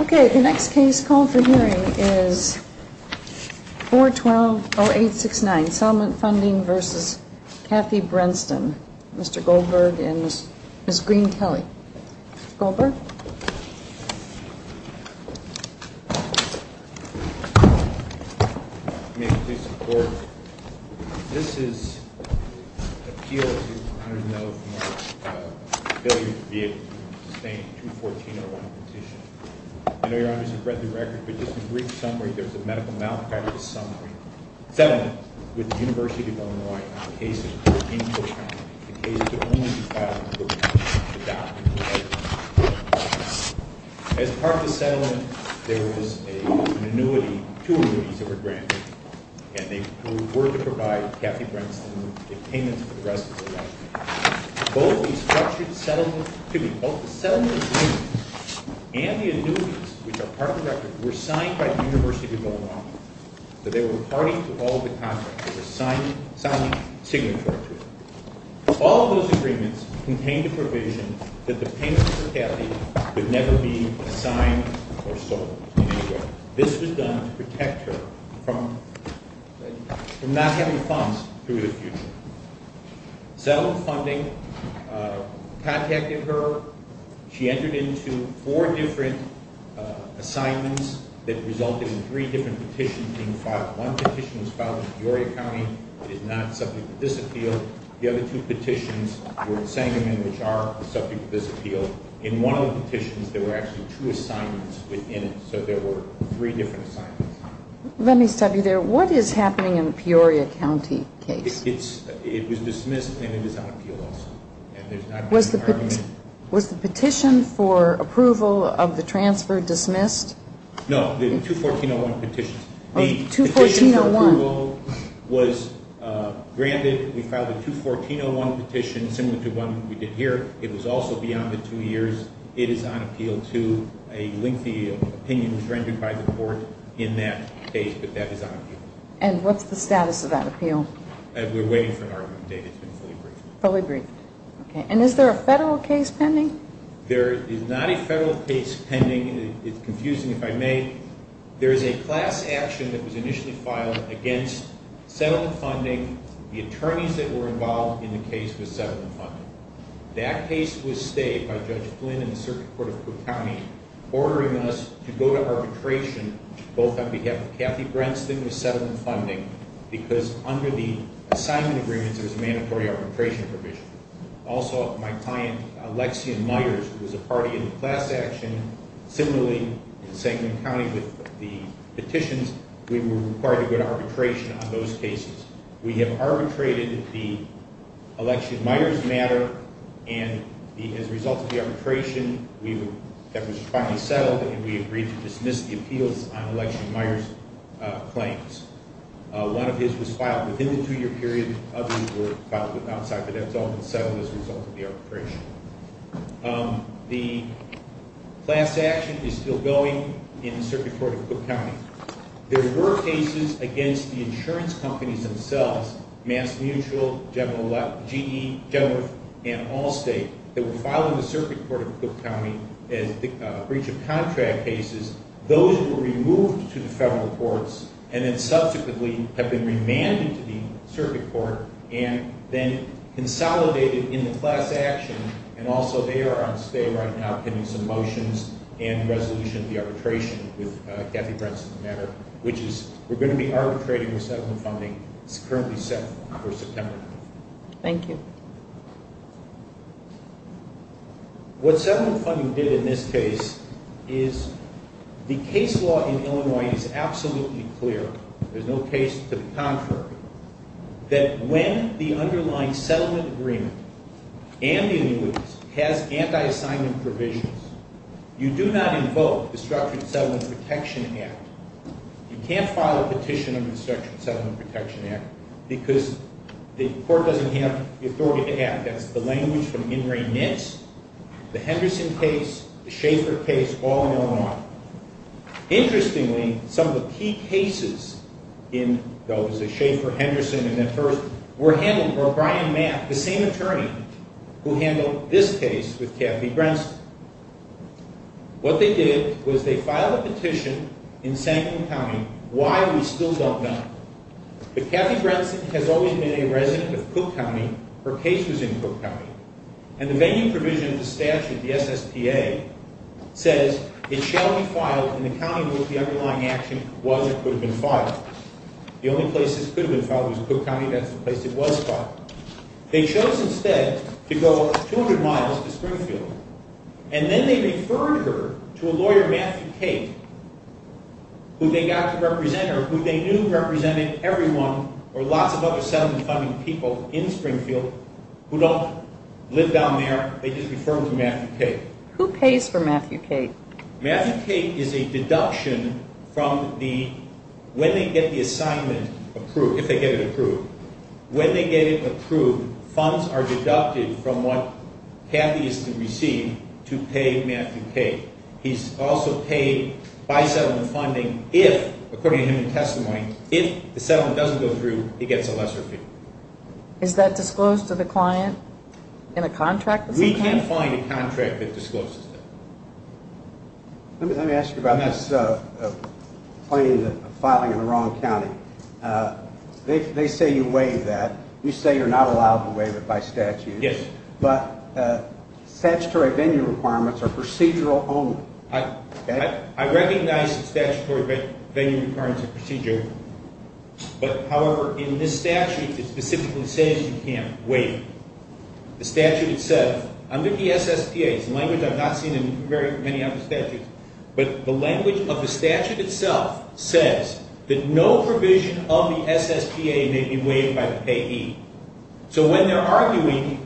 Okay, the next case call for hearing is 412-0869, Settlement Funding v. Kathy Brenston, Mr. Goldberg and Ms. Green-Kelley. May it please the Court, this is an appeal to the 100 and over from our ability to be able to sustain a 214-01 petition. I know Your Honors have read the record, but just a brief summary, there's a medical malpractice summary. Settlement with the University of Illinois on the case of the 14-year-old family. As part of the settlement, there was an annuity, two annuities that were granted, and they were to provide Kathy Brenston with payments for the rest of her life. Both the settlement agreement and the annuities, which are part of the record, were signed by the University of Illinois. They were party to all of the contracts. They were signed signatory to it. All of those agreements contained the provision that the payment for Kathy would never be signed or sold in any way. This was done to protect her from not having funds through the future. Settlement funding contacted her. She entered into four different assignments that resulted in three different petitions being filed. One petition was filed in Peoria County. It is not subject to this appeal. The other two petitions were in Sangamon, which are subject to this appeal. In one of the petitions, there were actually two assignments within it, so there were three different assignments. Let me stop you there. What is happening in the Peoria County case? It was dismissed, and it is on appeal also. Was the petition for approval of the transfer dismissed? No, the 214.01 petition. Oh, 214.01. The petition for approval was granted. We filed a 214.01 petition similar to one we did here. It was also beyond the two years. It is on appeal, too. A lengthy opinion was rendered by the court in that case, but that is on appeal. And what's the status of that appeal? We're waiting for an argument date. It's been fully briefed. Fully briefed. Okay. And is there a federal case pending? There is not a federal case pending. It's confusing, if I may. There is a class action that was initially filed against settlement funding. The attorneys that were involved in the case were settlement funding. That case was stayed by Judge Flynn and the Circuit Court of Cook County, ordering us to go to arbitration, both on behalf of Kathy Brenston with settlement funding, because under the assignment agreements, there was a mandatory arbitration provision. Also, my client, Alexia Myers, who was a party in the class action, similarly in Sangamon County with the petitions, we were required to go to arbitration on those cases. We have arbitrated the Alexia Myers matter, and as a result of the arbitration, that was finally settled, and we agreed to dismiss the appeals on Alexia Myers' claims. One of his was filed within the two-year period. Others were filed outside, but that's all been settled as a result of the arbitration. The class action is still going in the Circuit Court of Cook County. There were cases against the insurance companies themselves, MassMutual, GE, General and Allstate, that were filed in the Circuit Court of Cook County as breach of contract cases. Those were removed to the federal courts and then subsequently have been remanded to the Circuit Court and then consolidated in the class action, and also they are on stay right now pending some motions and resolution of the arbitration with Kathy Brenston's matter, which is we're going to be arbitrating the settlement funding. It's currently set for September 9th. Thank you. What settlement funding did in this case is the case law in Illinois is absolutely clear. There's no case to the contrary that when the underlying settlement agreement and the annuitants has anti-assignment provisions, you do not invoke the Structured Settlement Protection Act. You can't file a petition under the Structured Settlement Protection Act because the court doesn't have the authority to act. That's the language from Ingray Nitz, the Henderson case, the Schaefer case, all in Illinois. Interestingly, some of the key cases in those, the Schaefer, Henderson, and that first, were handled by Brian Mapp, the same attorney who handled this case with Kathy Brenston. What they did was they filed a petition in Sankin County. Why? We still don't know. But Kathy Brenston has always been a resident of Cook County. Her case was in Cook County. And the venue provision of the statute, the SSPA, says it shall be filed in the county where the underlying action was or could have been filed. The only place this could have been filed was Cook County. That's the place it was filed. They chose instead to go 200 miles to Springfield. And then they referred her to a lawyer, Matthew Cate, who they got to represent her, who they knew represented everyone or lots of other settlement funding people in Springfield who don't live down there. They just referred them to Matthew Cate. Who pays for Matthew Cate? Matthew Cate is a deduction from the, when they get the assignment approved, if they get it approved, when they get it approved, funds are deducted from what Kathy is to receive to pay Matthew Cate. He's also paid by settlement funding if, according to him in testimony, if the settlement doesn't go through, he gets a lesser fee. Is that disclosed to the client in a contract? We can't find a contract that discloses that. Let me ask you about this claim of filing in the wrong county. They say you waived that. You say you're not allowed to waive it by statute. Yes. But statutory venue requirements are procedural only. I recognize the statutory venue requirements are procedural, but, however, in this statute it specifically says you can't waive it. The statute itself, under the SSPA, it's a language I've not seen in very many other statutes, but the language of the statute itself says that no provision of the SSPA may be waived by the payee. So when they're arguing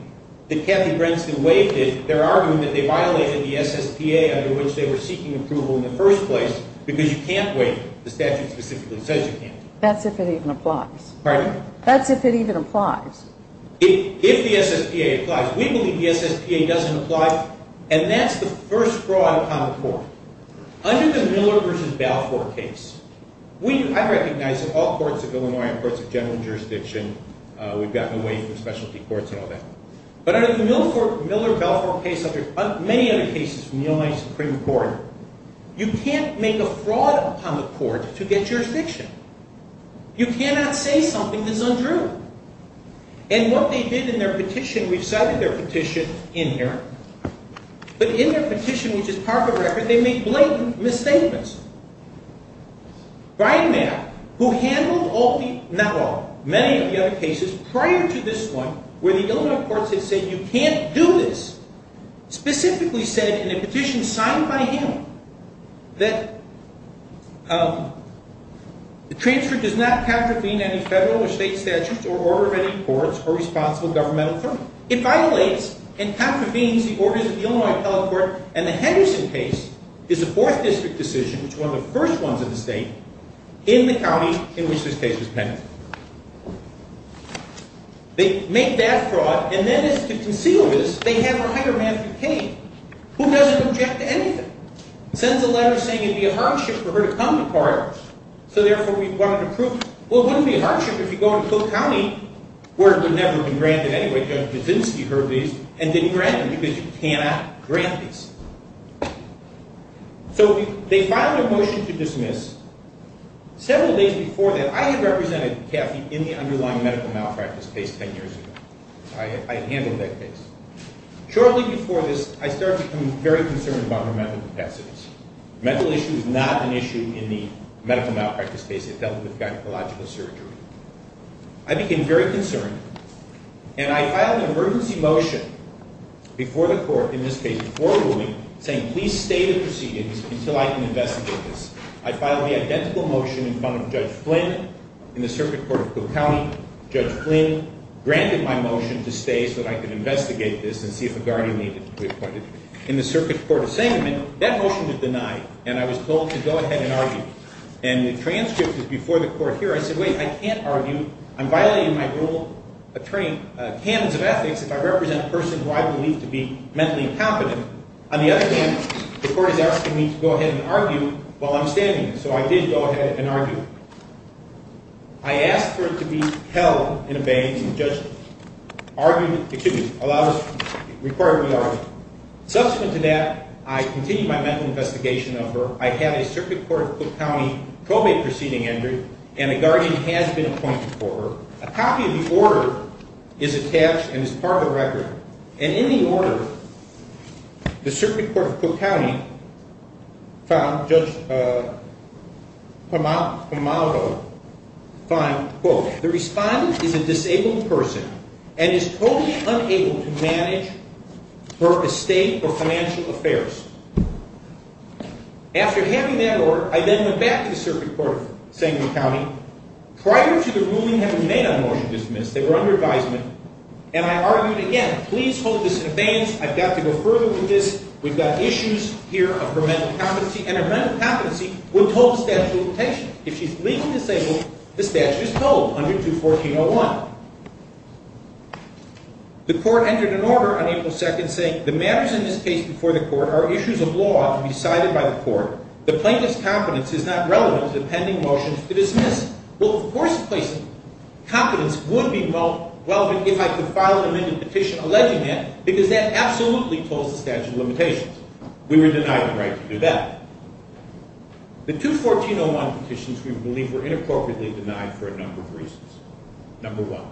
that Kathy Branstad waived it, they're arguing that they violated the SSPA under which they were seeking approval in the first place because you can't waive it. The statute specifically says you can't waive it. That's if it even applies. Pardon? That's if it even applies. If the SSPA applies. We believe the SSPA doesn't apply, and that's the first fraud upon the court. Under the Miller v. Balfour case, I recognize that all courts of Illinois are courts of general jurisdiction. We've gotten away from specialty courts and all that. But under the Miller v. Balfour case, many other cases from the Illinois Supreme Court, you can't make a fraud upon the court to get jurisdiction. You cannot say something that's undue. And what they did in their petition, we've cited their petition in here, but in their petition, which is part of the record, they made blatant misstatements. Brian Mayer, who handled many of the other cases prior to this one, where the Illinois courts had said you can't do this, specifically said in a petition signed by him that the transfer does not contravene any federal or state statutes or order of any courts or responsible governmental firm. It violates and contravenes the orders of the Illinois Appellate Court, and the Henderson case is a Fourth District decision, which is one of the first ones in the state, in the county in which this case was penned. They make that fraud, and then as to conceal this, they have a hired man from Kane who doesn't object to anything. Sends a letter saying it would be a hardship for her to come to court, so therefore we wanted to prove it. Well, it wouldn't be a hardship if you go into Cook County, where it would never have been granted anyway, because Wyszynski heard these and didn't grant them, because you cannot grant these. So they filed a motion to dismiss. Several days before that, I had represented Caffey in the underlying medical malpractice case ten years ago. I had handled that case. Shortly before this, I started to become very concerned about her mental capacities. Mental issue is not an issue in the medical malpractice case. It dealt with gynecological surgery. I became very concerned, and I filed an emergency motion before the court, in this case before the ruling, saying, please stay the proceedings until I can investigate this. I filed the identical motion in front of Judge Flynn in the Circuit Court of Cook County. Judge Flynn granted my motion to stay so that I could investigate this and see if a guardian needed to be appointed. In the Circuit Court of Salem, that motion was denied, and I was told to go ahead and argue. And the transcript was before the court here. I said, wait, I can't argue. I'm violating my rule of training, canons of ethics, if I represent a person who I believe to be mentally incompetent. On the other hand, the court is asking me to go ahead and argue while I'm standing there. So I did go ahead and argue. I asked for it to be held in abeyance. The judge allowed us, required we argue. Subsequent to that, I continued my mental investigation of her. I had a Circuit Court of Cook County probate proceeding entered, and a guardian has been appointed for her. A copy of the order is attached and is part of the record. And in the order, the Circuit Court of Cook County found, Judge Pomago found, quote, the respondent is a disabled person and is totally unable to manage her estate or financial affairs. After having that order, I then went back to the Circuit Court of Salem County. Prior to the ruling having been made on a motion to dismiss, they were under advisement, and I argued again, please hold this in abeyance. I've got to go further with this. We've got issues here of her mental competency, and her mental competency would hold the statute in attention. If she's legally disabled, the statute is told under 214.01. The court entered an order on April 2nd saying, the matters in this case before the court are issues of law to be decided by the court. The plaintiff's competence is not relevant to the pending motions to dismiss. Well, of course, the plaintiff's competence would be relevant if I could file an amended petition alleging that, because that absolutely told the statute of limitations. We were denied the right to do that. The 214.01 petitions, we believe, were inappropriately denied for a number of reasons. Number one,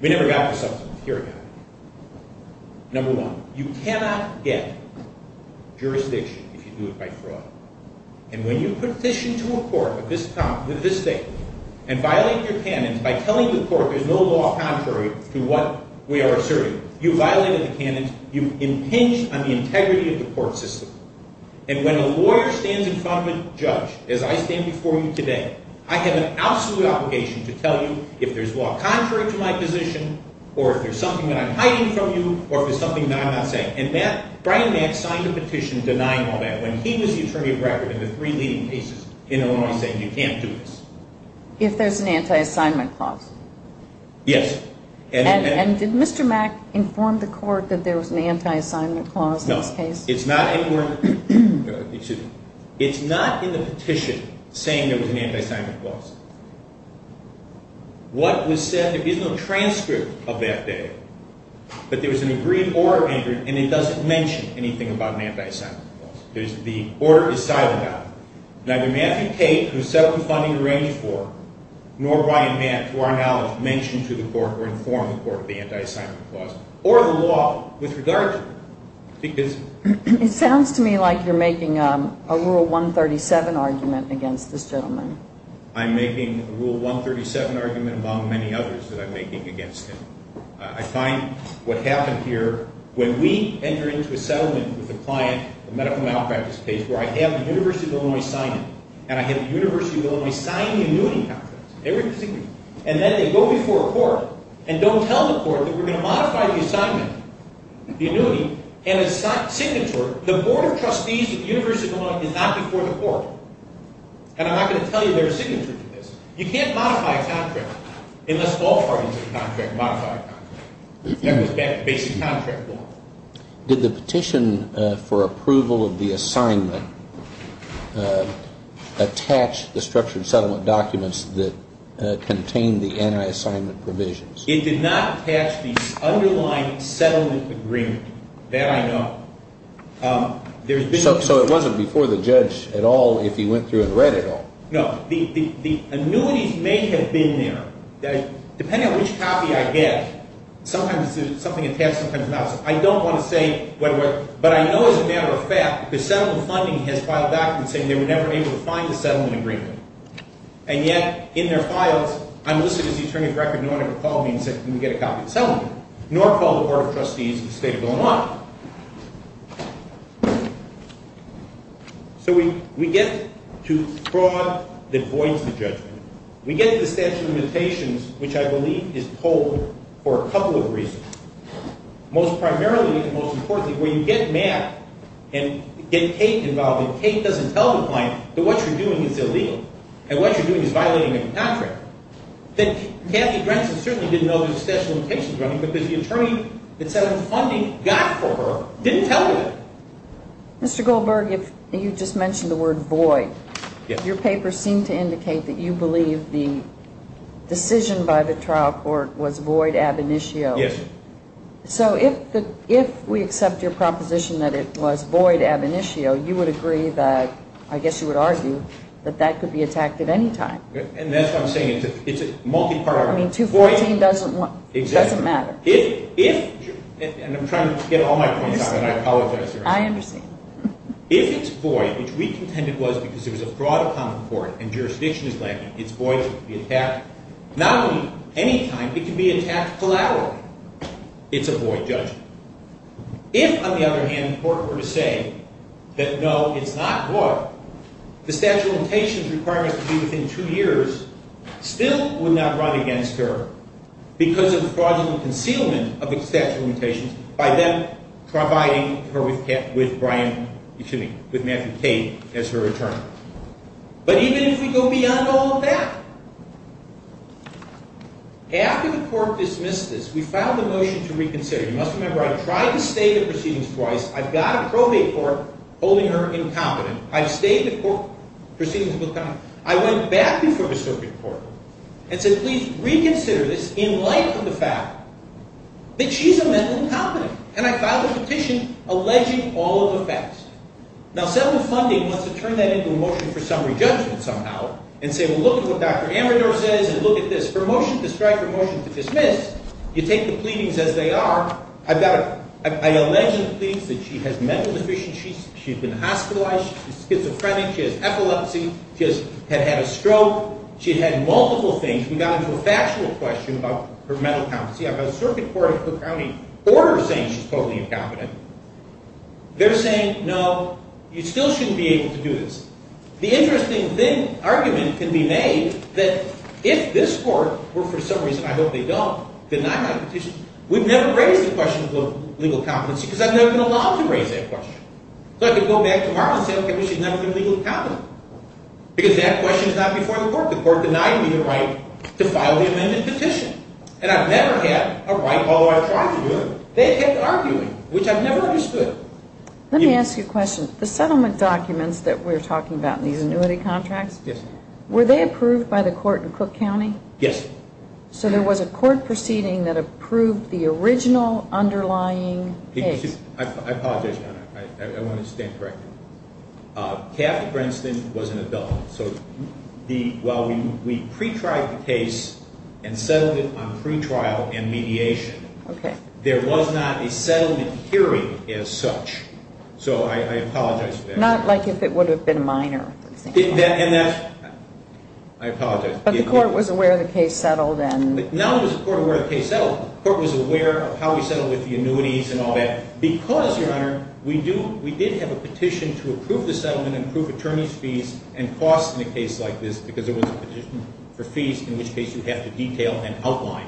we never got the substance here again. Number one, you cannot get jurisdiction if you do it by fraud. And when you petition to a court of this state and violate your canons by telling the court there's no law contrary to what we are asserting, you've violated the canons, you've impinged on the integrity of the court system. And when a lawyer stands in front of a judge, as I stand before you today, I have an absolute obligation to tell you if there's law contrary to my position or if there's something that I'm hiding from you or if there's something that I'm not saying. And Brian Mack signed a petition denying all that when he was the attorney at record in the three leading cases in Illinois saying you can't do this. If there's an anti-assignment clause. Yes. And did Mr. Mack inform the court that there was an anti-assignment clause in this case? No. It's not in the petition saying there was an anti-assignment clause. What was said, there is no transcript of that day, but there was an agreed order entered and it doesn't mention anything about an anti-assignment clause. The order is silent on it. Neither Matthew Tate, who set up the funding to arrange for, nor Brian Mack, to our knowledge, mentioned to the court or informed the court of the anti-assignment clause or the law with regard to it. It sounds to me like you're making a Rule 137 argument against this gentleman. I'm making a Rule 137 argument among many others that I'm making against him. I find what happened here, when we enter into a settlement with a client, the medical malpractice case, where I have the University of Illinois sign it, and I have the University of Illinois sign the annuity contract, and then they go before a court and don't tell the court that we're going to modify the assignment, the annuity, and it's not signatory. The Board of Trustees at the University of Illinois is not before the court. And I'm not going to tell you they're signatory to this. You can't modify a contract unless all parties in the contract modify a contract. That was basic contract law. Did the petition for approval of the assignment attach the structured settlement documents that contained the anti-assignment provisions? It did not attach the underlying settlement agreement. That I know. So it wasn't before the judge at all if he went through and read it all? No. The annuities may have been there. Depending on which copy I get, sometimes it's something attached, sometimes not. I don't want to say whether it was. But I know as a matter of fact, the settlement funding has filed back and said they were never able to find the settlement agreement. And yet, in their files, I'm listed as the attorney of the record. No one ever called me and said, can we get a copy of the settlement, nor called the Board of Trustees of the State of Illinois. So we get to fraud that voids the judgment. We get to the statute of limitations, which I believe is told for a couple of reasons. Primarily and most importantly, when you get Matt and get Kate involved, and Kate doesn't tell the client that what you're doing is illegal and what you're doing is violating a contract, then Kathy Grenson certainly didn't know there was a statute of limitations around it because the attorney that settlement funding got for her didn't tell her that. Mr. Goldberg, you just mentioned the word void. Your papers seem to indicate that you believe the decision by the trial court was void ab initio. Yes. So if we accept your proposition that it was void ab initio, you would agree that, I guess you would argue, that that could be attacked at any time. And that's what I'm saying. It's a multi-parameter. I mean, 214 doesn't matter. If it's void, which we contended was because it was a fraud of common court and jurisdiction is lacking, it's void to be attacked not only any time, it can be attacked collaterally. It's a void judgment. If, on the other hand, the court were to say that, no, it's not void, the statute of limitations requiring us to be within two years still would not run against her because of the fraudulent concealment of the statute of limitations by them providing her with Matthew Cade as her attorney. But even if we go beyond all of that, after the court dismissed this, we filed a motion to reconsider. You must remember I tried to state the proceedings twice. I've got a probate court holding her incompetent. I've stated the proceedings a couple of times. I went back before the circuit court and said, please reconsider this in light of the fact that she's a mental incompetent. And I filed a petition alleging all of the facts. Now, several funding wants to turn that into a motion for summary judgment somehow and say, well, look at what Dr. Amador says and look at this. Her motion to strike, her motion to dismiss, you take the pleadings as they are. I've got a – I allege in the pleadings that she has mental deficiencies. She's been hospitalized. She's schizophrenic. She has epilepsy. She has – had had a stroke. She had had multiple things. We got into a factual question about her mental competency. I've got a circuit court in Cook County order saying she's totally incompetent. They're saying, no, you still shouldn't be able to do this. The interesting thing – argument can be made that if this court were, for some reason, I hope they don't, deny my petition, we'd never raise the question of legal competency because I've never been allowed to raise that question. So I could go back tomorrow and say, okay, we should never be legally competent because that question is not before the court. The court denied me the right to file the amended petition, and I've never had a right, although I tried to do it. They kept arguing, which I've never understood. Let me ask you a question. The settlement documents that we're talking about in these annuity contracts, were they approved by the court in Cook County? Yes. So there was a court proceeding that approved the original underlying case. I apologize, Your Honor. I want to stand corrected. Kathy Princeton was an adult. So while we pre-tried the case and settled it on pre-trial and mediation, there was not a settlement hearing as such. So I apologize for that. Not like if it would have been minor. I apologize. But the court was aware the case settled. Now there was a court aware the case settled. The court was aware of how we settled with the annuities and all that because, Your Honor, we did have a petition to approve the settlement and approve attorney's fees and costs in a case like this because there was a petition for fees, in which case you have to detail and outline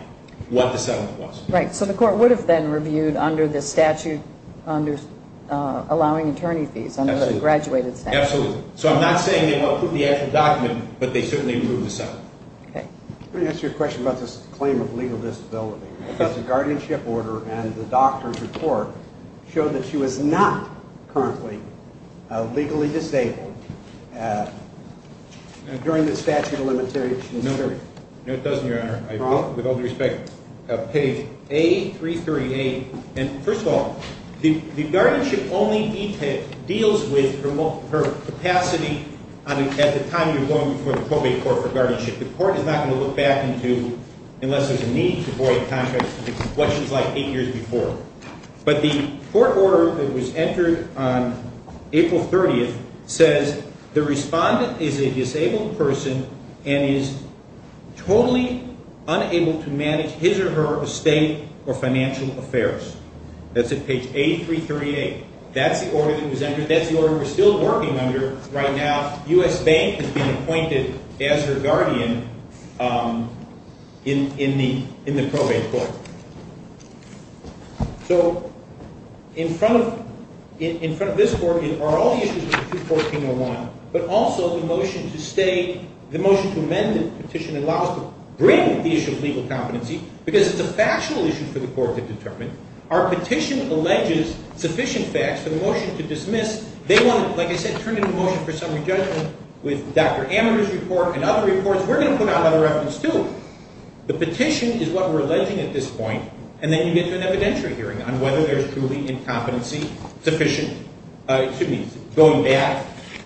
what the settlement was. Right. So the court would have then reviewed under the statute allowing attorney fees, under the graduated statute. Absolutely. So I'm not saying they won't approve the actual document, but they certainly approved the settlement. Okay. Let me ask you a question about this claim of legal disability. The guardianship order and the doctor's report show that she was not currently legally disabled during the statute of limitations period. No, it doesn't, Your Honor. With all due respect, page A338. And, first of all, the guardianship only deals with her capacity at the time you're going before the probate court for guardianship. The court is not going to look back and do, unless there's a need to void contracts, what she was like eight years before. But the court order that was entered on April 30th says the respondent is a disabled person and is totally unable to manage his or her estate or financial affairs. That's at page A338. That's the order that was entered. That's the order we're still working under right now. U.S. Bank has been appointed as her guardian in the probate court. So in front of this court are all the issues with 214.01, but also the motion to amend the petition allows to bring the issue of legal incompetency because it's a factional issue for the court to determine. Our petition alleges sufficient facts for the motion to dismiss. They want to, like I said, turn it into motion for summary judgment with Dr. Amador's report and other reports. We're going to put out another reference, too. The petition is what we're alleging at this point, and then you get to an evidentiary hearing on whether there's truly incompetency sufficient, excuse me, going back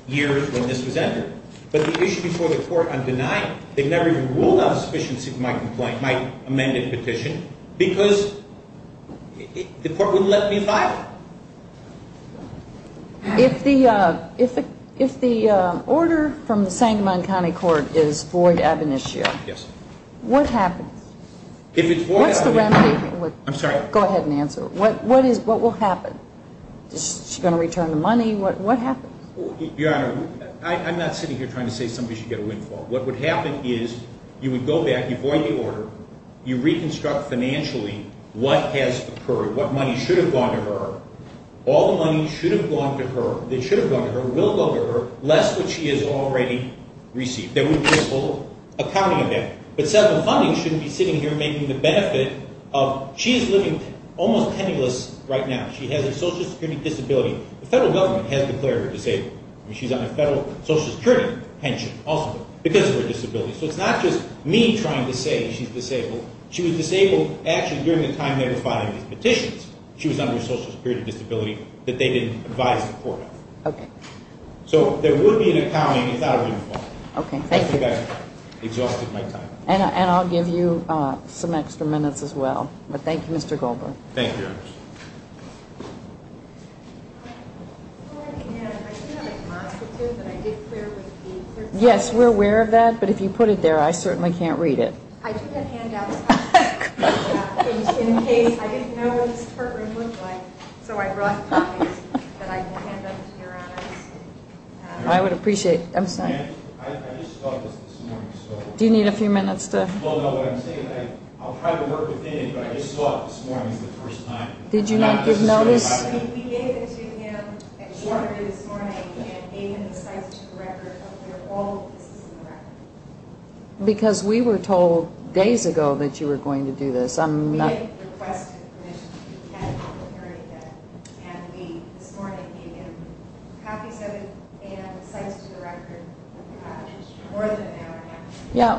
years when this was entered. But the issue before the court, I'm denying. They've never even ruled out sufficiency in my complaint, my amended petition, because the court wouldn't let me file it. If the order from the Sangamon County Court is void ab initio, what happens? If it's void ab initio. What's the remedy? I'm sorry. Go ahead and answer. What will happen? Is she going to return the money? What happens? Your Honor, I'm not sitting here trying to say somebody should get a windfall. What would happen is you would go back, you void the order, you reconstruct financially what has occurred, what money should have gone to her, all the money should have gone to her, that should have gone to her, will go to her, less what she has already received. There would be a full accounting of that. But settlement funding shouldn't be sitting here making the benefit of she is living almost penniless right now. She has a social security disability. The federal government has declared her disabled. She's on a federal social security pension also because of her disability. So it's not just me trying to say she's disabled. She was disabled actually during the time they were filing these petitions. She was under a social security disability that they didn't advise the court of. Okay. So there would be an accounting without a windfall. Okay. Thank you. I think I've exhausted my time. And I'll give you some extra minutes as well. But thank you, Mr. Goldberg. Thank you, Your Honor. Yes, we're aware of that. But if you put it there, I certainly can't read it. I took a handout. In case I didn't know what this courtroom looked like. So I brought copies that I can hand out to Your Honors. I would appreciate it. I'm sorry. I just saw this this morning. Do you need a few minutes? Well, no. What I'm saying is I'll try to work within it. But I just saw it this morning for the first time. Did you not give notice? Because we were told days ago that you were going to do this. Yeah.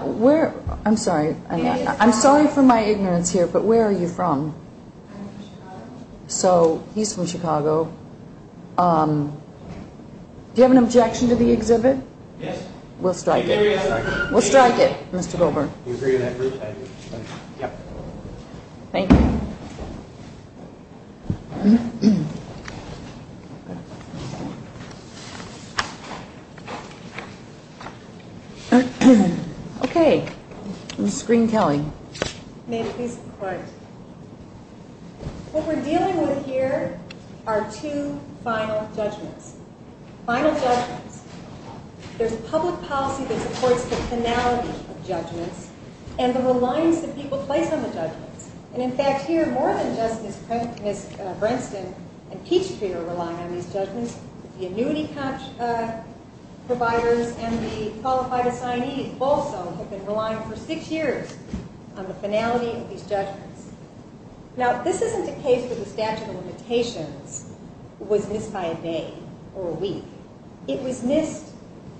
I'm sorry. I'm sorry for my ignorance here. But where are you from? So he's from Chicago. Do you have an objection to the exhibit? Yes. We'll strike it. We'll strike it, Mr. Goldberg. Thank you. Okay. Ma'am, please be quiet. What we're dealing with here are two final judgments. Final judgments. There's a public policy that supports the finality of judgments and the reliance that people place on the judgments. And, in fact, here more than just Ms. Branstad and Peachtree are relying on these judgments. The annuity providers and the qualified assignees also have been relying for six years on the finality of these judgments. Now, this isn't a case where the statute of limitations was missed by a day or a week. It was missed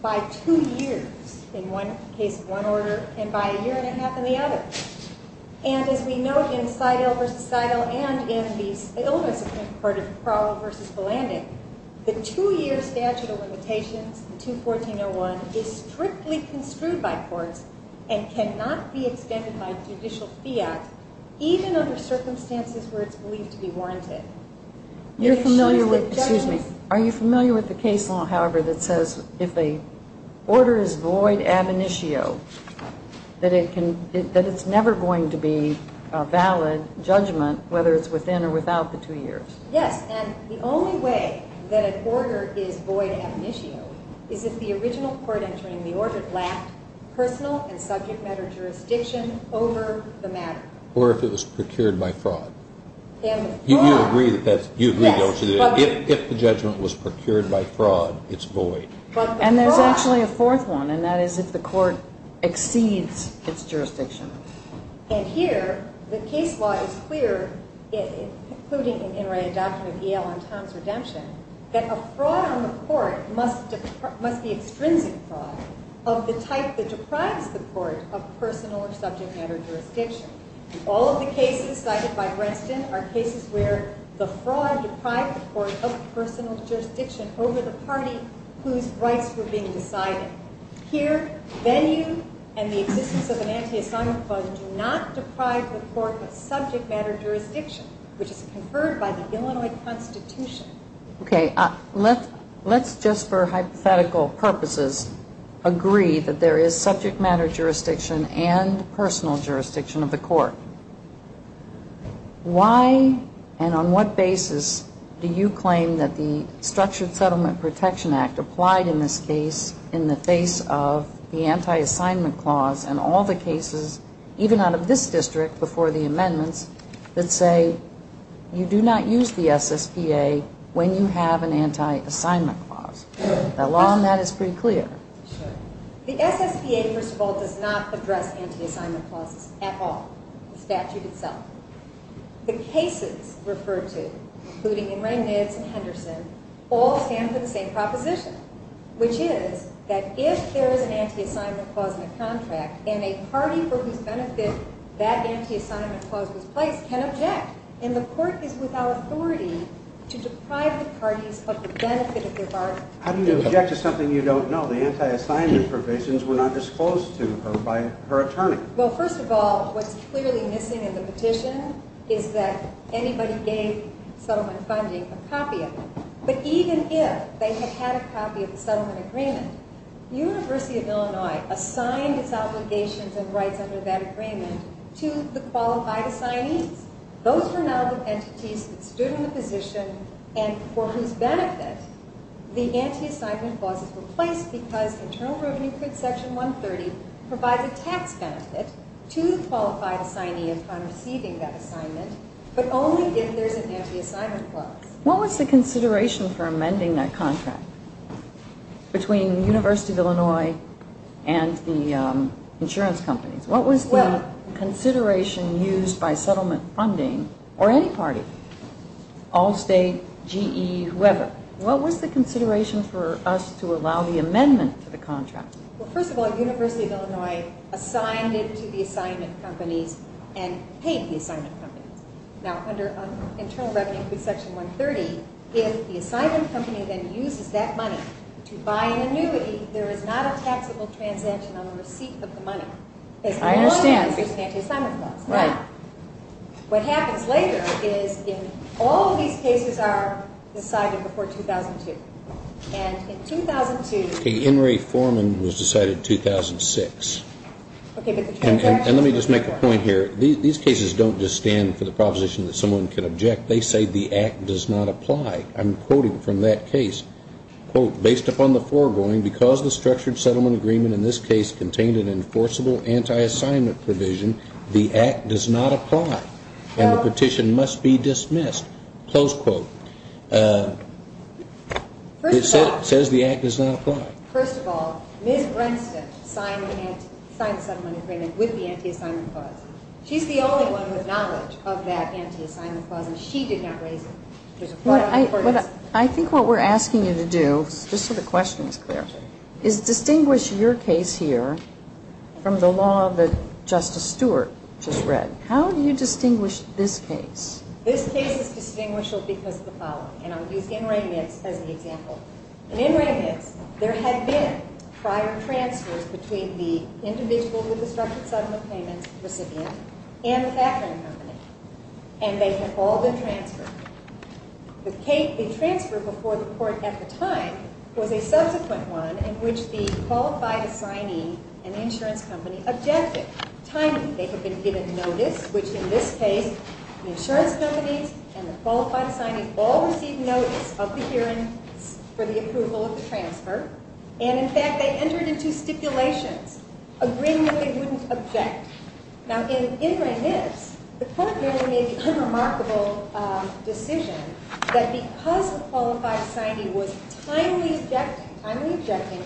by two years in one case of one order and by a year and a half in the other. And, as we know, in Seidel v. Seidel and in the older Supreme Court of Crowell v. Blanding, the two-year statute of limitations in 214.01 is strictly construed by courts and cannot be extended by judicial fiat even under circumstances where it's believed to be warranted. Are you familiar with the case law, however, that says if the order is void ab initio, that it's never going to be a valid judgment whether it's within or without the two years? Yes, and the only way that an order is void ab initio is if the original court entering the order lacked personal and subject matter jurisdiction over the matter. Or if it was procured by fraud. You agree that if the judgment was procured by fraud, it's void. And there's actually a fourth one, and that is if the court exceeds its jurisdiction. And here, the case law is clear, including in the doctrine of Yale and Tom's redemption, that a fraud on the court must be extrinsic fraud of the type that deprives the court of personal or subject matter jurisdiction. All of the cases cited by Brenston are cases where the fraud deprived the court of personal jurisdiction over the party whose rights were being decided. Here, venue and the existence of an anti-Assange clause do not deprive the court of subject matter jurisdiction, which is conferred by the Illinois Constitution. Okay, let's just for hypothetical purposes agree that there is subject matter jurisdiction and personal jurisdiction of the court. Why and on what basis do you claim that the Structured Settlement Protection Act applied in this case in the face of the anti-Assange clause and all the cases, even out of this district before the amendments, that say you do not use the SSPA when you have an anti-Assange clause? The law on that is pretty clear. Sure. The SSPA, first of all, does not address anti-Assange clauses at all, the statute itself. The cases referred to, including in Rehnnitz and Henderson, all stand for the same proposition, which is that if there is an anti-Assange clause in a contract and a party for whose benefit that anti-Assange clause was placed can object. And the court is without authority to deprive the parties of the benefit of their bargain. How do you object to something you don't know? The anti-Assange provisions were not disclosed to her by her attorney. Well, first of all, what's clearly missing in the petition is that anybody gave settlement funding a copy of it. But even if they had had a copy of the settlement agreement, the University of Illinois assigned its obligations and rights under that agreement to the qualified assignees. Those are now the entities that stood in the position, and for whose benefit the anti-Assange clause is replaced because Internal Revenue Print Section 130 provides a tax benefit to the qualified assignee upon receiving that assignment, but only if there's an anti-Assange clause. What was the consideration for amending that contract between the University of Illinois and the insurance companies? What was the consideration used by settlement funding or any party, Allstate, GE, whoever? What was the consideration for us to allow the amendment to the contract? Well, first of all, University of Illinois assigned it to the assignment companies and paid the assignment companies. Now, under Internal Revenue Print Section 130, if the assignment company then uses that money to buy an annuity, there is not a taxable transaction on the receipt of the money. As long as there's an anti-Assange clause. Right. Now, what happens later is if all of these cases are decided before 2002, and in 2002 ---- In reforman was decided in 2006. Okay, but the transaction was before. And let me just make a point here. These cases don't just stand for the proposition that someone can object. They say the act does not apply. I'm quoting from that case, quote, based upon the foregoing, because the structured settlement agreement in this case contained an enforceable anti-assignment provision, the act does not apply and the petition must be dismissed, close quote. It says the act does not apply. First of all, Ms. Brenston signed the settlement agreement with the anti-assignment clause. She's the only one with knowledge of that anti-assignment clause, and she did not raise it. I think what we're asking you to do, just so the question is clear, is distinguish your case here from the law that Justice Stewart just read. How do you distinguish this case? This case is distinguishable because of the following. And I'll use N. Ray Nitz as an example. In N. Ray Nitz, there had been prior transfers between the individual with the structured settlement payment recipient and the background company, and they had all been transferred. The transfer before the court at the time was a subsequent one in which the qualified assignee and the insurance company objected, timely. They had been given notice, which in this case, the insurance companies and the qualified assignee all received notice of the hearings for the approval of the transfer. And, in fact, they entered into stipulations, agreeing that they wouldn't object. Now, in N. Ray Nitz, the court merely made the unremarkable decision that because the qualified assignee was timely objecting, timely objecting,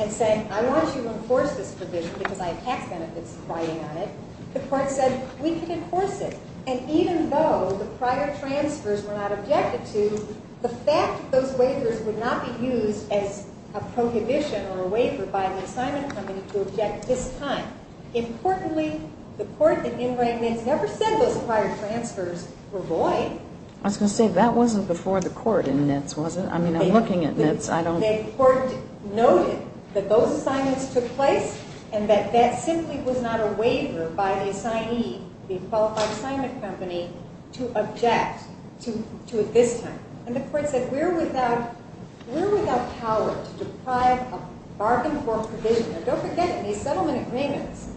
and saying, I want you to enforce this provision because I have tax benefits in fighting on it, the court said, we can enforce it. And even though the prior transfers were not objected to, the fact that those waivers would not be used as a prohibition or a waiver by the assignment company to object this time. Importantly, the court at N. Ray Nitz never said those prior transfers were void. I was going to say, that wasn't before the court in Nitz, was it? I mean, I'm looking at Nitz. The court noted that those assignments took place and that that simply was not a waiver by the assignee, the qualified assignment company, to object to it this time. And the court said, we're without power to deprive a bargain for provision. Now, don't forget, in these settlement agreements,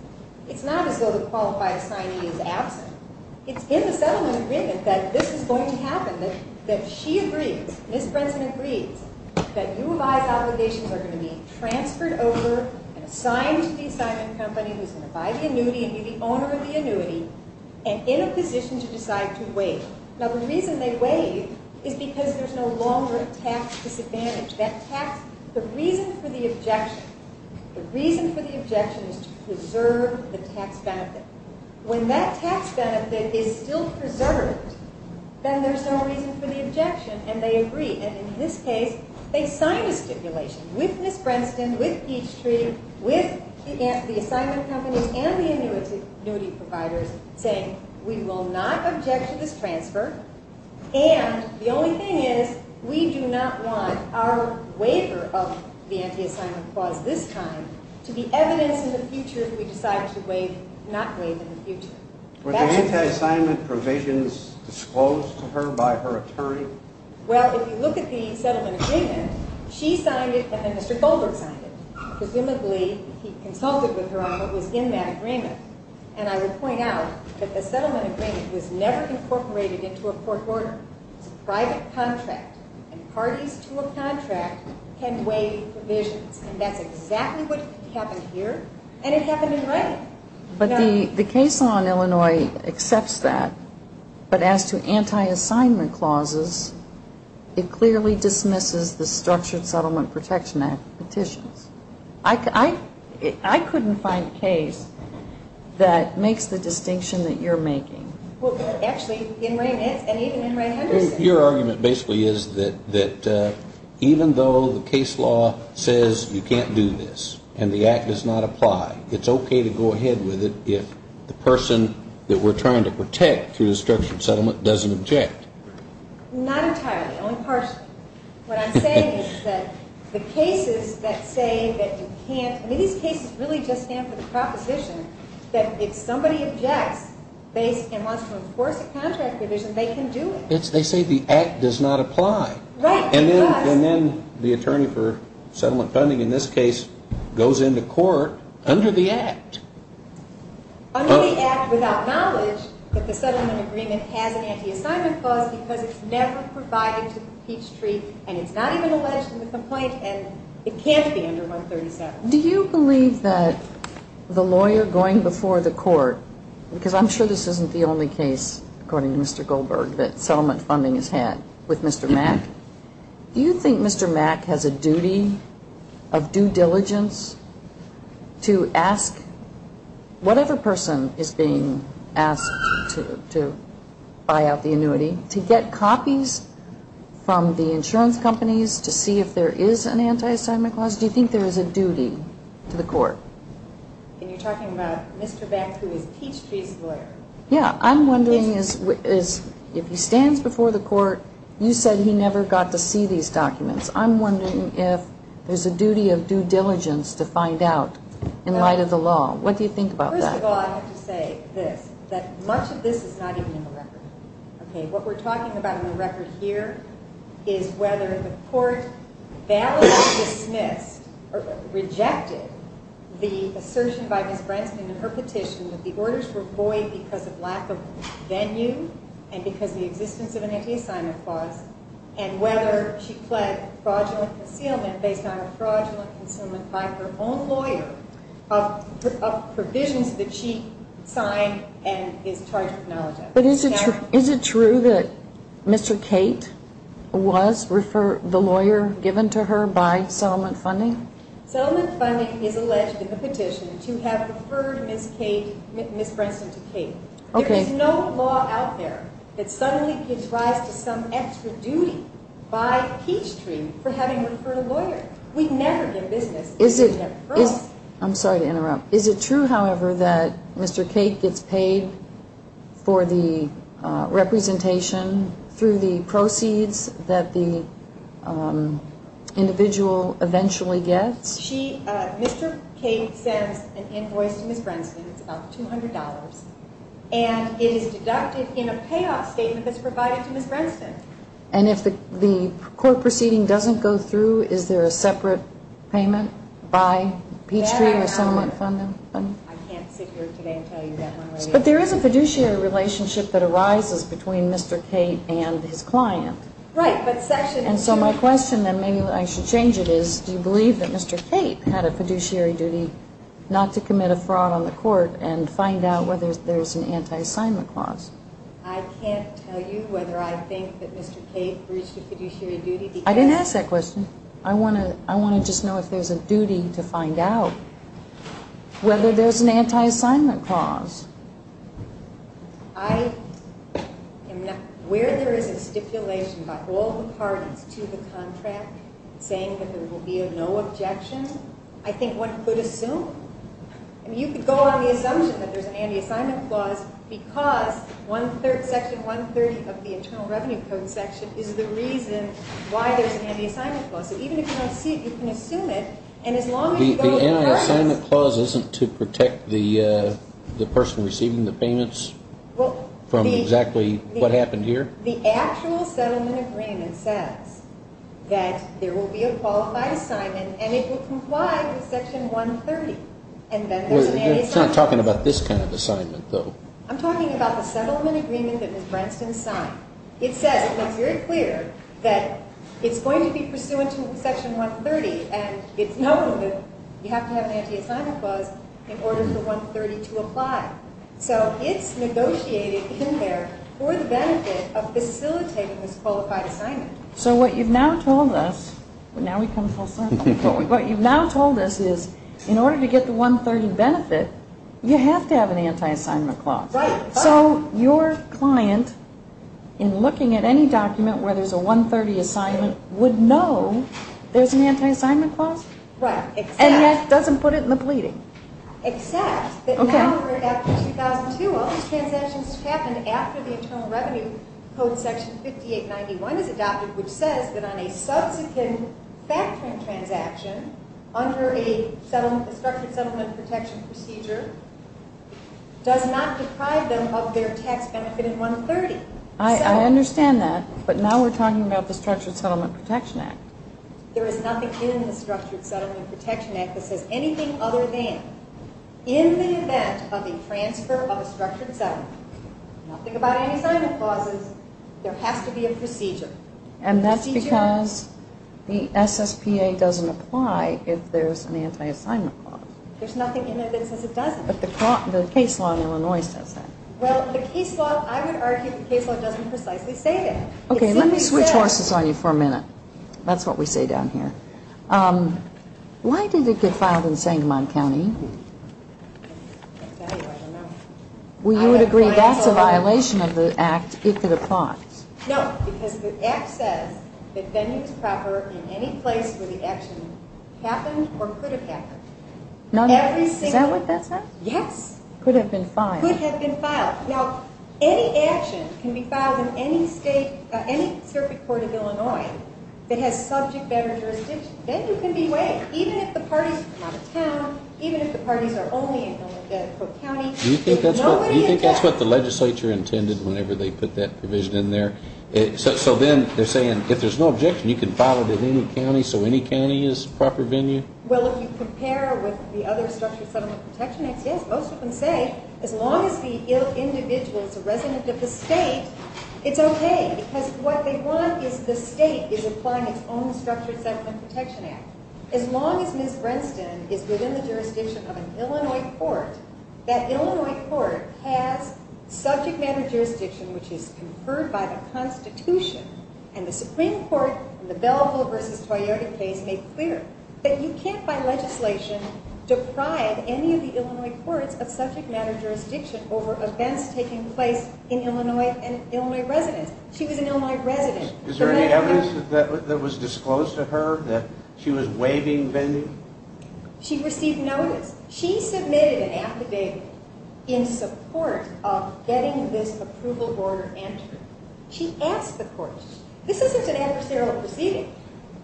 it's not as though the qualified assignee is absent. It's in the settlement agreement that this is going to happen, that she agrees, Ms. Brinson agrees, that U of I's obligations are going to be transferred over and assigned to the assignment company, who's going to buy the annuity and be the owner of the annuity, and in a position to decide to waive. Now, the reason they waive is because there's no longer a tax disadvantage. The reason for the objection is to preserve the tax benefit. When that tax benefit is still preserved, then there's no reason for the objection, and they agree, and in this case, they sign a stipulation with Ms. Brinson, with Peachtree, with the assignment company and the annuity providers, saying, we will not object to this transfer, and the only thing is, we do not want our waiver of the anti-assignment clause this time to be evidence in the future if we decide to not waive in the future. Were the anti-assignment provisions disclosed to her by her attorney? Well, if you look at the settlement agreement, she signed it and then Mr. Goldberg signed it. Presumably, he consulted with her on what was in that agreement, and I would point out that the settlement agreement was never incorporated into a court order. It was a private contract, and parties to a contract can waive provisions, and that's exactly what happened here, and it happened in writing. But the case law in Illinois accepts that, but as to anti-assignment clauses, it clearly dismisses the Structured Settlement Protection Act petitions. I couldn't find a case that makes the distinction that you're making. Well, actually, in Raymond's and even in Raymond Henderson's. Your argument basically is that even though the case law says you can't do this and the Act does not apply, it's okay to go ahead with it if the person that we're trying to protect through the structured settlement doesn't object. Not entirely, only partially. What I'm saying is that the cases that say that you can't, I mean, these cases really just stand for the proposition that if somebody objects and wants to enforce a contract provision, they can do it. They say the Act does not apply. Right. And then the attorney for settlement funding in this case goes into court under the Act. Under the Act without knowledge that the settlement agreement has an anti-assignment clause because it's never provided to the Pete Street, and it's not even alleged in the complaint, and it can't be under 137. Do you believe that the lawyer going before the court, because I'm sure this isn't the only case, according to Mr. Goldberg, that settlement funding is had with Mr. Mack. Do you think Mr. Mack has a duty of due diligence to ask whatever person is being asked to buy out the annuity, to get copies from the insurance companies to see if there is an anti-assignment clause? Do you think there is a duty to the court? And you're talking about Mr. Mack who is Pete Street's lawyer. Yeah. I'm wondering if he stands before the court, you said he never got to see these documents. I'm wondering if there's a duty of due diligence to find out in light of the law. What do you think about that? First of all, I have to say this, that much of this is not even in the record. Okay? What we're talking about in the record here is whether the court validly dismissed or rejected the assertion by Ms. Bransman in her petition that the orders were void because of lack of venue and because of the existence of an anti-assignment clause, and whether she pled fraudulent concealment based on fraudulent concealment by her own lawyer of provisions that she signed and is charged with knowledge of. But is it true that Mr. Cate was the lawyer given to her by settlement funding? Settlement funding is alleged in the petition to have referred Ms. Bransman to Cate. Okay. There is no law out there that suddenly gives rise to some extra duty by Pete Street for having referred a lawyer. We never did business with him. I'm sorry to interrupt. Is it true, however, that Mr. Cate gets paid for the representation through the proceeds that the individual eventually gets? Mr. Cate sends an invoice to Ms. Bransman. It's about $200. And it is deducted in a payoff statement that's provided to Ms. Bransman. And if the court proceeding doesn't go through, is there a separate payment by Pete Street with settlement funding? I can't sit here today and tell you that. But there is a fiduciary relationship that arises between Mr. Cate and his client. Right. And so my question, and maybe I should change it, is do you believe that Mr. Cate had a fiduciary duty not to commit a fraud on the court and find out whether there's an anti-assignment clause? I can't tell you whether I think that Mr. Cate breached a fiduciary duty. I didn't ask that question. I want to just know if there's a duty to find out whether there's an anti-assignment clause. I am not aware there is a stipulation by all the parties to the contract saying that there will be no objection. I think one could assume. I mean, you could go on the assumption that there's an anti-assignment clause because Section 130 of the Internal Revenue Code section is the reason why there's an anti-assignment clause. So even if you don't see it, you can assume it. And as long as you go to the person. The anti-assignment clause isn't to protect the person receiving the payments from exactly what happened here? The actual settlement agreement says that there will be a qualified assignment and it will comply with Section 130 and that there's an anti-assignment clause. It's not talking about this kind of assignment, though. I'm talking about the settlement agreement that Ms. Branston signed. It says, and it's very clear, that it's going to be pursuant to Section 130 and it's known that you have to have an anti-assignment clause in order for 130 to apply. So it's negotiated in there for the benefit of facilitating this qualified assignment. So what you've now told us, now we've come full circle, what you've now told us is in order to get the 130 benefit, you have to have an anti-assignment clause. Right. So your client, in looking at any document where there's a 130 assignment, would know there's an anti-assignment clause? Right. And yet doesn't put it in the pleading? Except that now we're after 2002. All these transactions happened after the Internal Revenue Code, Section 5891, is adopted, which says that on a subsequent factoring transaction, under a Structured Settlement Protection Procedure, does not deprive them of their tax benefit in 130. I understand that, but now we're talking about the Structured Settlement Protection Act. There is nothing in the Structured Settlement Protection Act that says anything other than in the event of the transfer of a structured settlement, nothing about any assignment clauses, there has to be a procedure. And that's because the SSPA doesn't apply if there's an anti-assignment clause. There's nothing in there that says it doesn't. But the case law in Illinois says that. Well, the case law, I would argue the case law doesn't precisely say that. Okay, let me switch horses on you for a minute. That's what we say down here. Why did it get filed in Sangamon County? Well, you would agree that's a violation of the Act, it could have fought. No, because the Act says that venue is proper in any place where the action happened or could have happened. Is that what that says? Yes. Could have been filed. Could have been filed. Now, any action can be filed in any circuit court of Illinois that has subject matter jurisdiction. Venue can be waived, even if the parties are out of town, even if the parties are only in Illinois County. Do you think that's what the legislature intended whenever they put that provision in there? So then they're saying if there's no objection, you can file it in any county, so any county is proper venue? Well, if you compare with the other Structured Settlement Protection Acts, yes, most of them say as long as the individual is a resident of the state, it's okay, because what they want is the state is applying its own Structured Settlement Protection Act. As long as Ms. Brenston is within the jurisdiction of an Illinois court, that Illinois court has subject matter jurisdiction, which is conferred by the Constitution, and the Supreme Court in the Belleville v. Toyota case made clear that you can't by legislation deprive any of the Illinois courts of subject matter jurisdiction over events taking place in Illinois and Illinois residents. She was an Illinois resident. Is there any evidence that was disclosed to her that she was waiving venue? She received notice. She submitted an affidavit in support of getting this approval order entered. She asked the courts. This isn't an adversarial proceeding.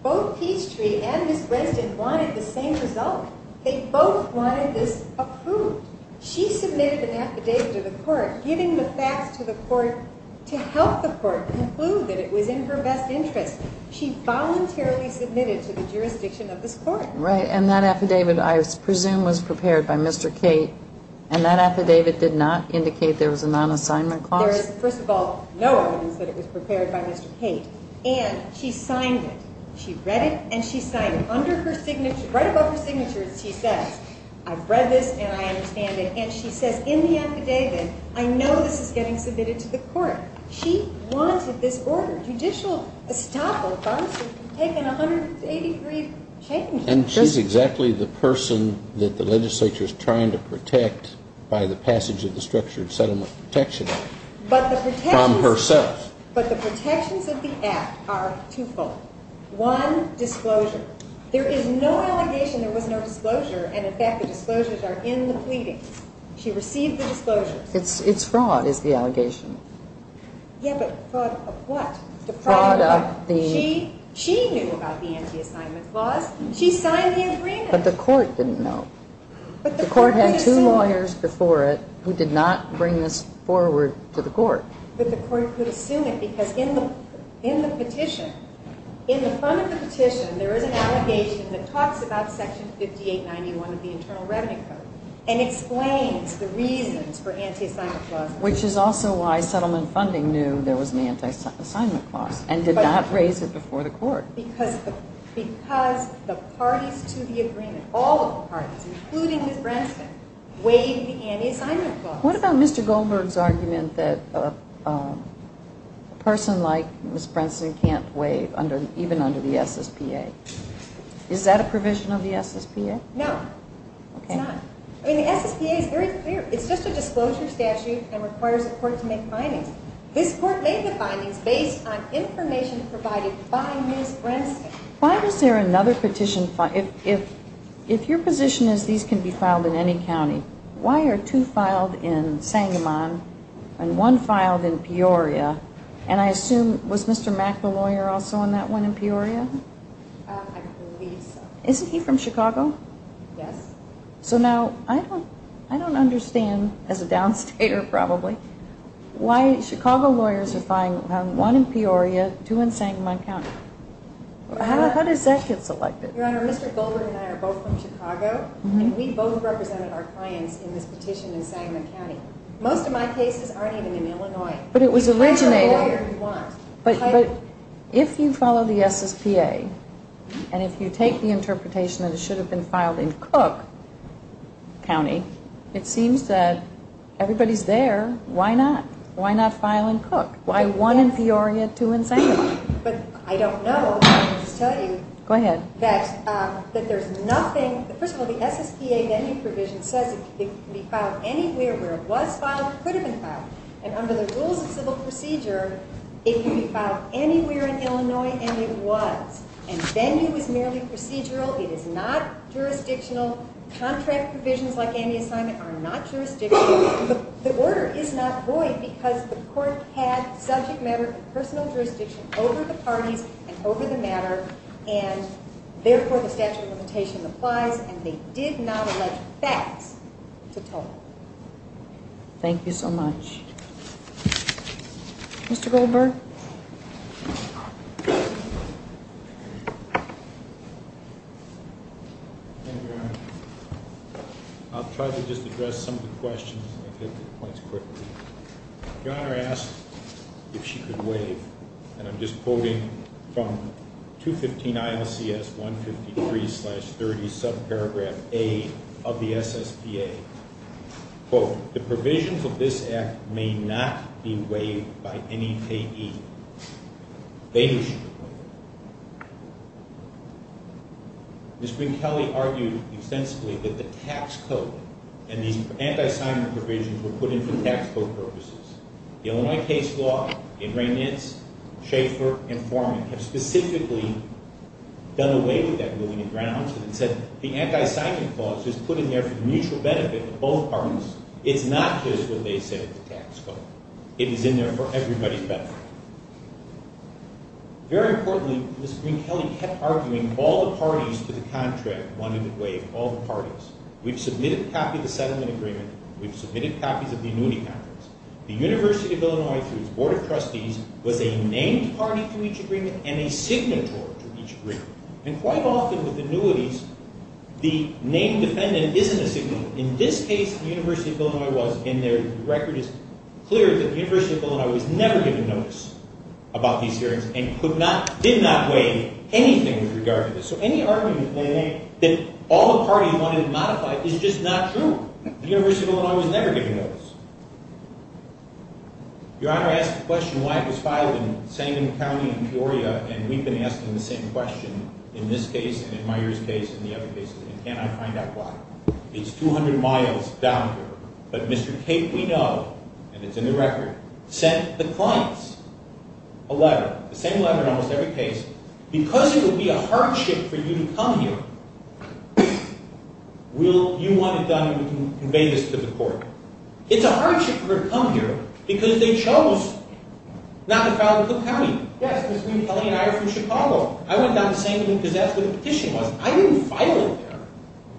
Both Peachtree and Ms. Brenston wanted the same result. They both wanted this approved. She submitted an affidavit to the court giving the facts to the court to help the court conclude that it was in her best interest. She voluntarily submitted to the jurisdiction of this court. Right, and that affidavit, I presume, was prepared by Mr. Cate, and that affidavit did not indicate there was a non-assignment clause? There is, first of all, no evidence that it was prepared by Mr. Cate, and she signed it. She read it and she signed it. Under her signature, right above her signature, she says, I've read this and I understand it, and she says in the affidavit, I know this is getting submitted to the court. She wanted this order. Judicial estoppel, if I'm not mistaken, taking a 180-degree change. And she's exactly the person that the legislature is trying to protect by the passage of the Structured Settlement Protection Act from herself. But the protections of the act are twofold. One, disclosure. There is no allegation there was no disclosure, and in fact the disclosures are in the pleadings. She received the disclosures. It's fraud is the allegation. Yeah, but fraud of what? Fraud of the? She knew about the anti-assignment clause. She signed the agreement. But the court didn't know. The court had two lawyers before it who did not bring this forward to the court. But the court could assume it because in the petition, in the front of the petition, there is an allegation that talks about Section 5891 of the Internal Revenue Code and explains the reasons for anti-assignment clauses. Which is also why settlement funding knew there was an anti-assignment clause and did not raise it before the court. Because the parties to the agreement, all of the parties, including Ms. Branstad, waived the anti-assignment clause. What about Mr. Goldberg's argument that a person like Ms. Branstad can't waive, even under the SSPA? Is that a provision of the SSPA? No, it's not. I mean, the SSPA is very clear. It's just a disclosure statute and requires the court to make findings. This court made the findings based on information provided by Ms. Branstad. Why was there another petition? If your position is these can be filed in any county, why are two filed in Sangamon and one filed in Peoria? And I assume, was Mr. Mack the lawyer also on that one in Peoria? I believe so. Isn't he from Chicago? Yes. So now, I don't understand, as a downstater probably, why Chicago lawyers are filing one in Peoria, two in Sangamon County. How does that get selected? Your Honor, Mr. Goldberg and I are both from Chicago, and we both represented our clients in this petition in Sangamon County. Most of my cases aren't even in Illinois. But it was originated. I'm the lawyer who won. But if you follow the SSPA, and if you take the interpretation that it should have been filed in Cook County, it seems that everybody's there. Why not? Why not file in Cook? Why one in Peoria, two in Sangamon? But I don't know. Let me just tell you. Go ahead. That there's nothing. First of all, the SSPA venue provision says it can be filed anywhere where it was filed or could have been filed. And under the rules of civil procedure, it can be filed anywhere in Illinois and it was. And venue is merely procedural. It is not jurisdictional. Contract provisions like anti-assignment are not jurisdictional. The order is not void because the court had subject matter and personal jurisdiction over the parties and over the matter. And therefore, the statute of limitation applies. And they did not allege facts to total. Thank you so much. Mr. Goldberg? Thank you, Your Honor. I'll try to just address some of the questions. I'll hit the points quickly. Your Honor asked if she could waive. And I'm just quoting from 215 ILCS 153-30, subparagraph A of the SSPA. Quote, the provisions of this act may not be waived by any payee. They wish to waive. Ms. Green-Kelley argued extensively that the tax code and these anti-assignment provisions were put in for tax code purposes. The Illinois case law, Ingray-Nitz, Schaefer, and Forman have specifically done away with that ruling and grounds and said the anti-assignment clause was put in there for the mutual benefit of both parties. It's not just what they said in the tax code. It is in there for everybody's benefit. Very importantly, Ms. Green-Kelley kept arguing all the parties to the contract wanted it waived. All the parties. We've submitted a copy of the settlement agreement. We've submitted copies of the annuity contracts. The University of Illinois, through its board of trustees, was a named party to each agreement and a signatory to each agreement. And quite often with annuities, the named defendant isn't a signatory. In this case, the University of Illinois was, and their record is clear that the University of Illinois was never given notice about these hearings and did not waive anything with regard to this. So any argument that all the parties wanted it modified is just not true. The University of Illinois was never given notice. Your Honor, I asked the question why it was filed in Sangam County in Peoria, and we've been asking the same question in this case and in Meijer's case and the other cases, and can I find out why? It's 200 miles down here. But Mr. Cape, we know, and it's in the record, sent the clients a letter. The same letter in almost every case. Because it would be a hardship for you to come here, will you want it done and convey this to the court? It's a hardship for her to come here because they chose not to file it in Cook County. Yes, because me and Kelly and I are from Chicago. I went down to Sangam because that's where the petition was. I didn't file it there,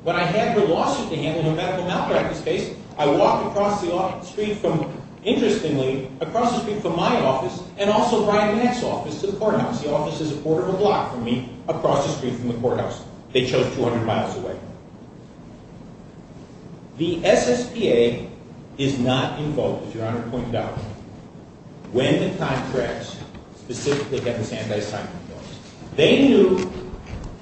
but I had her lawsuit to handle her medical malpractice case. I walked across the street from, interestingly, across the street from my office and also Brian Mack's office to the courthouse. The office is a quarter of a block from me, across the street from the courthouse. They chose 200 miles away. The SSPA is not invoked, as Your Honor pointed out, when the contracts specifically have this anti-signing clause. They knew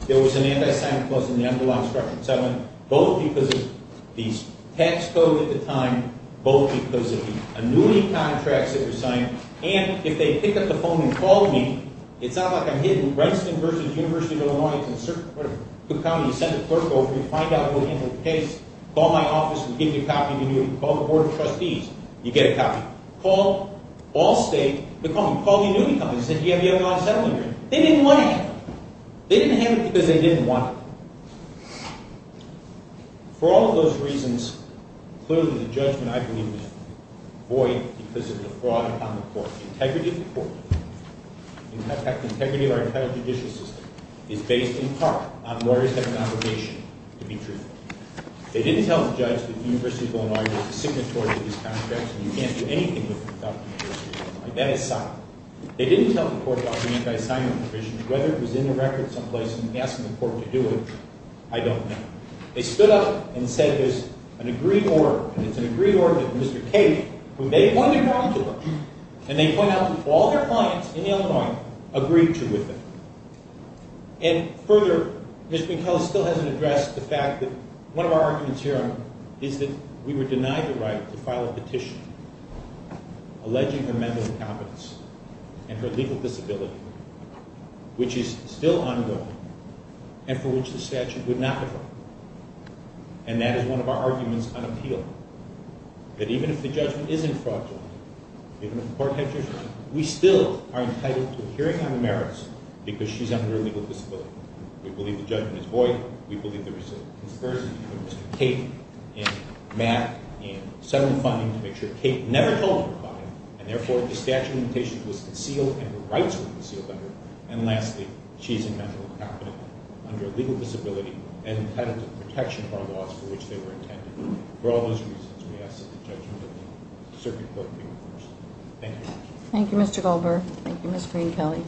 there was an anti-signing clause in the envelope structure, so both because of these tax code at the time, both because of the annuity contracts that were signed, and if they pick up the phone and call me, it's not like I'm hidden. In Renston v. University of Illinois in Cook County, you send a clerk over, you find out what happened to the case, call my office, we give you a copy, you call the Board of Trustees, you get a copy. Call Allstate, they call me, call the annuity company, they say, do you have the unlawful settlement agreement? They didn't want it. They didn't have it because they didn't want it. For all of those reasons, clearly the judgment I believe is void because of the fraud on the court. The integrity of the court, in fact, the integrity of our entire judicial system, is based in part on lawyers having an obligation to be truthful. They didn't tell the judge that the University of Illinois was a signatory to these contracts and you can't do anything with them without the University of Illinois. That is silent. They didn't tell the court about the anti-signing provision, whether it was in the record someplace and asking the court to do it, I don't know. They stood up and said there's an agreed order, and it's an agreed order of Mr. Cage, who they pointed wrong to them, and they point out that all their clients in Illinois agreed to with it. And further, Mr. McCullough still hasn't addressed the fact that one of our arguments here is that we were denied the right to file a petition alleging her mental incompetence and her legal disability, which is still ongoing, and for which the statute would not defer. And that is one of our arguments on appeal, that even if the judgment isn't fraudulent, even if the court had judgment, we still are entitled to a hearing on the merits because she's under a legal disability. We believe the judgment is void. We believe there was a conspiracy between Mr. Cage and Mack and several funding to make sure Cage never told her client, and therefore the statute of limitations was concealed and her rights were concealed under it. And lastly, she is in mental incompetence under a legal disability and entitled to the protection of our laws for which they were intended. For all those reasons, we ask that the judgment of the circuit court be reversed. Thank you. Thank you, Mr. Goldberg. Thank you, Ms. Green-Kelley.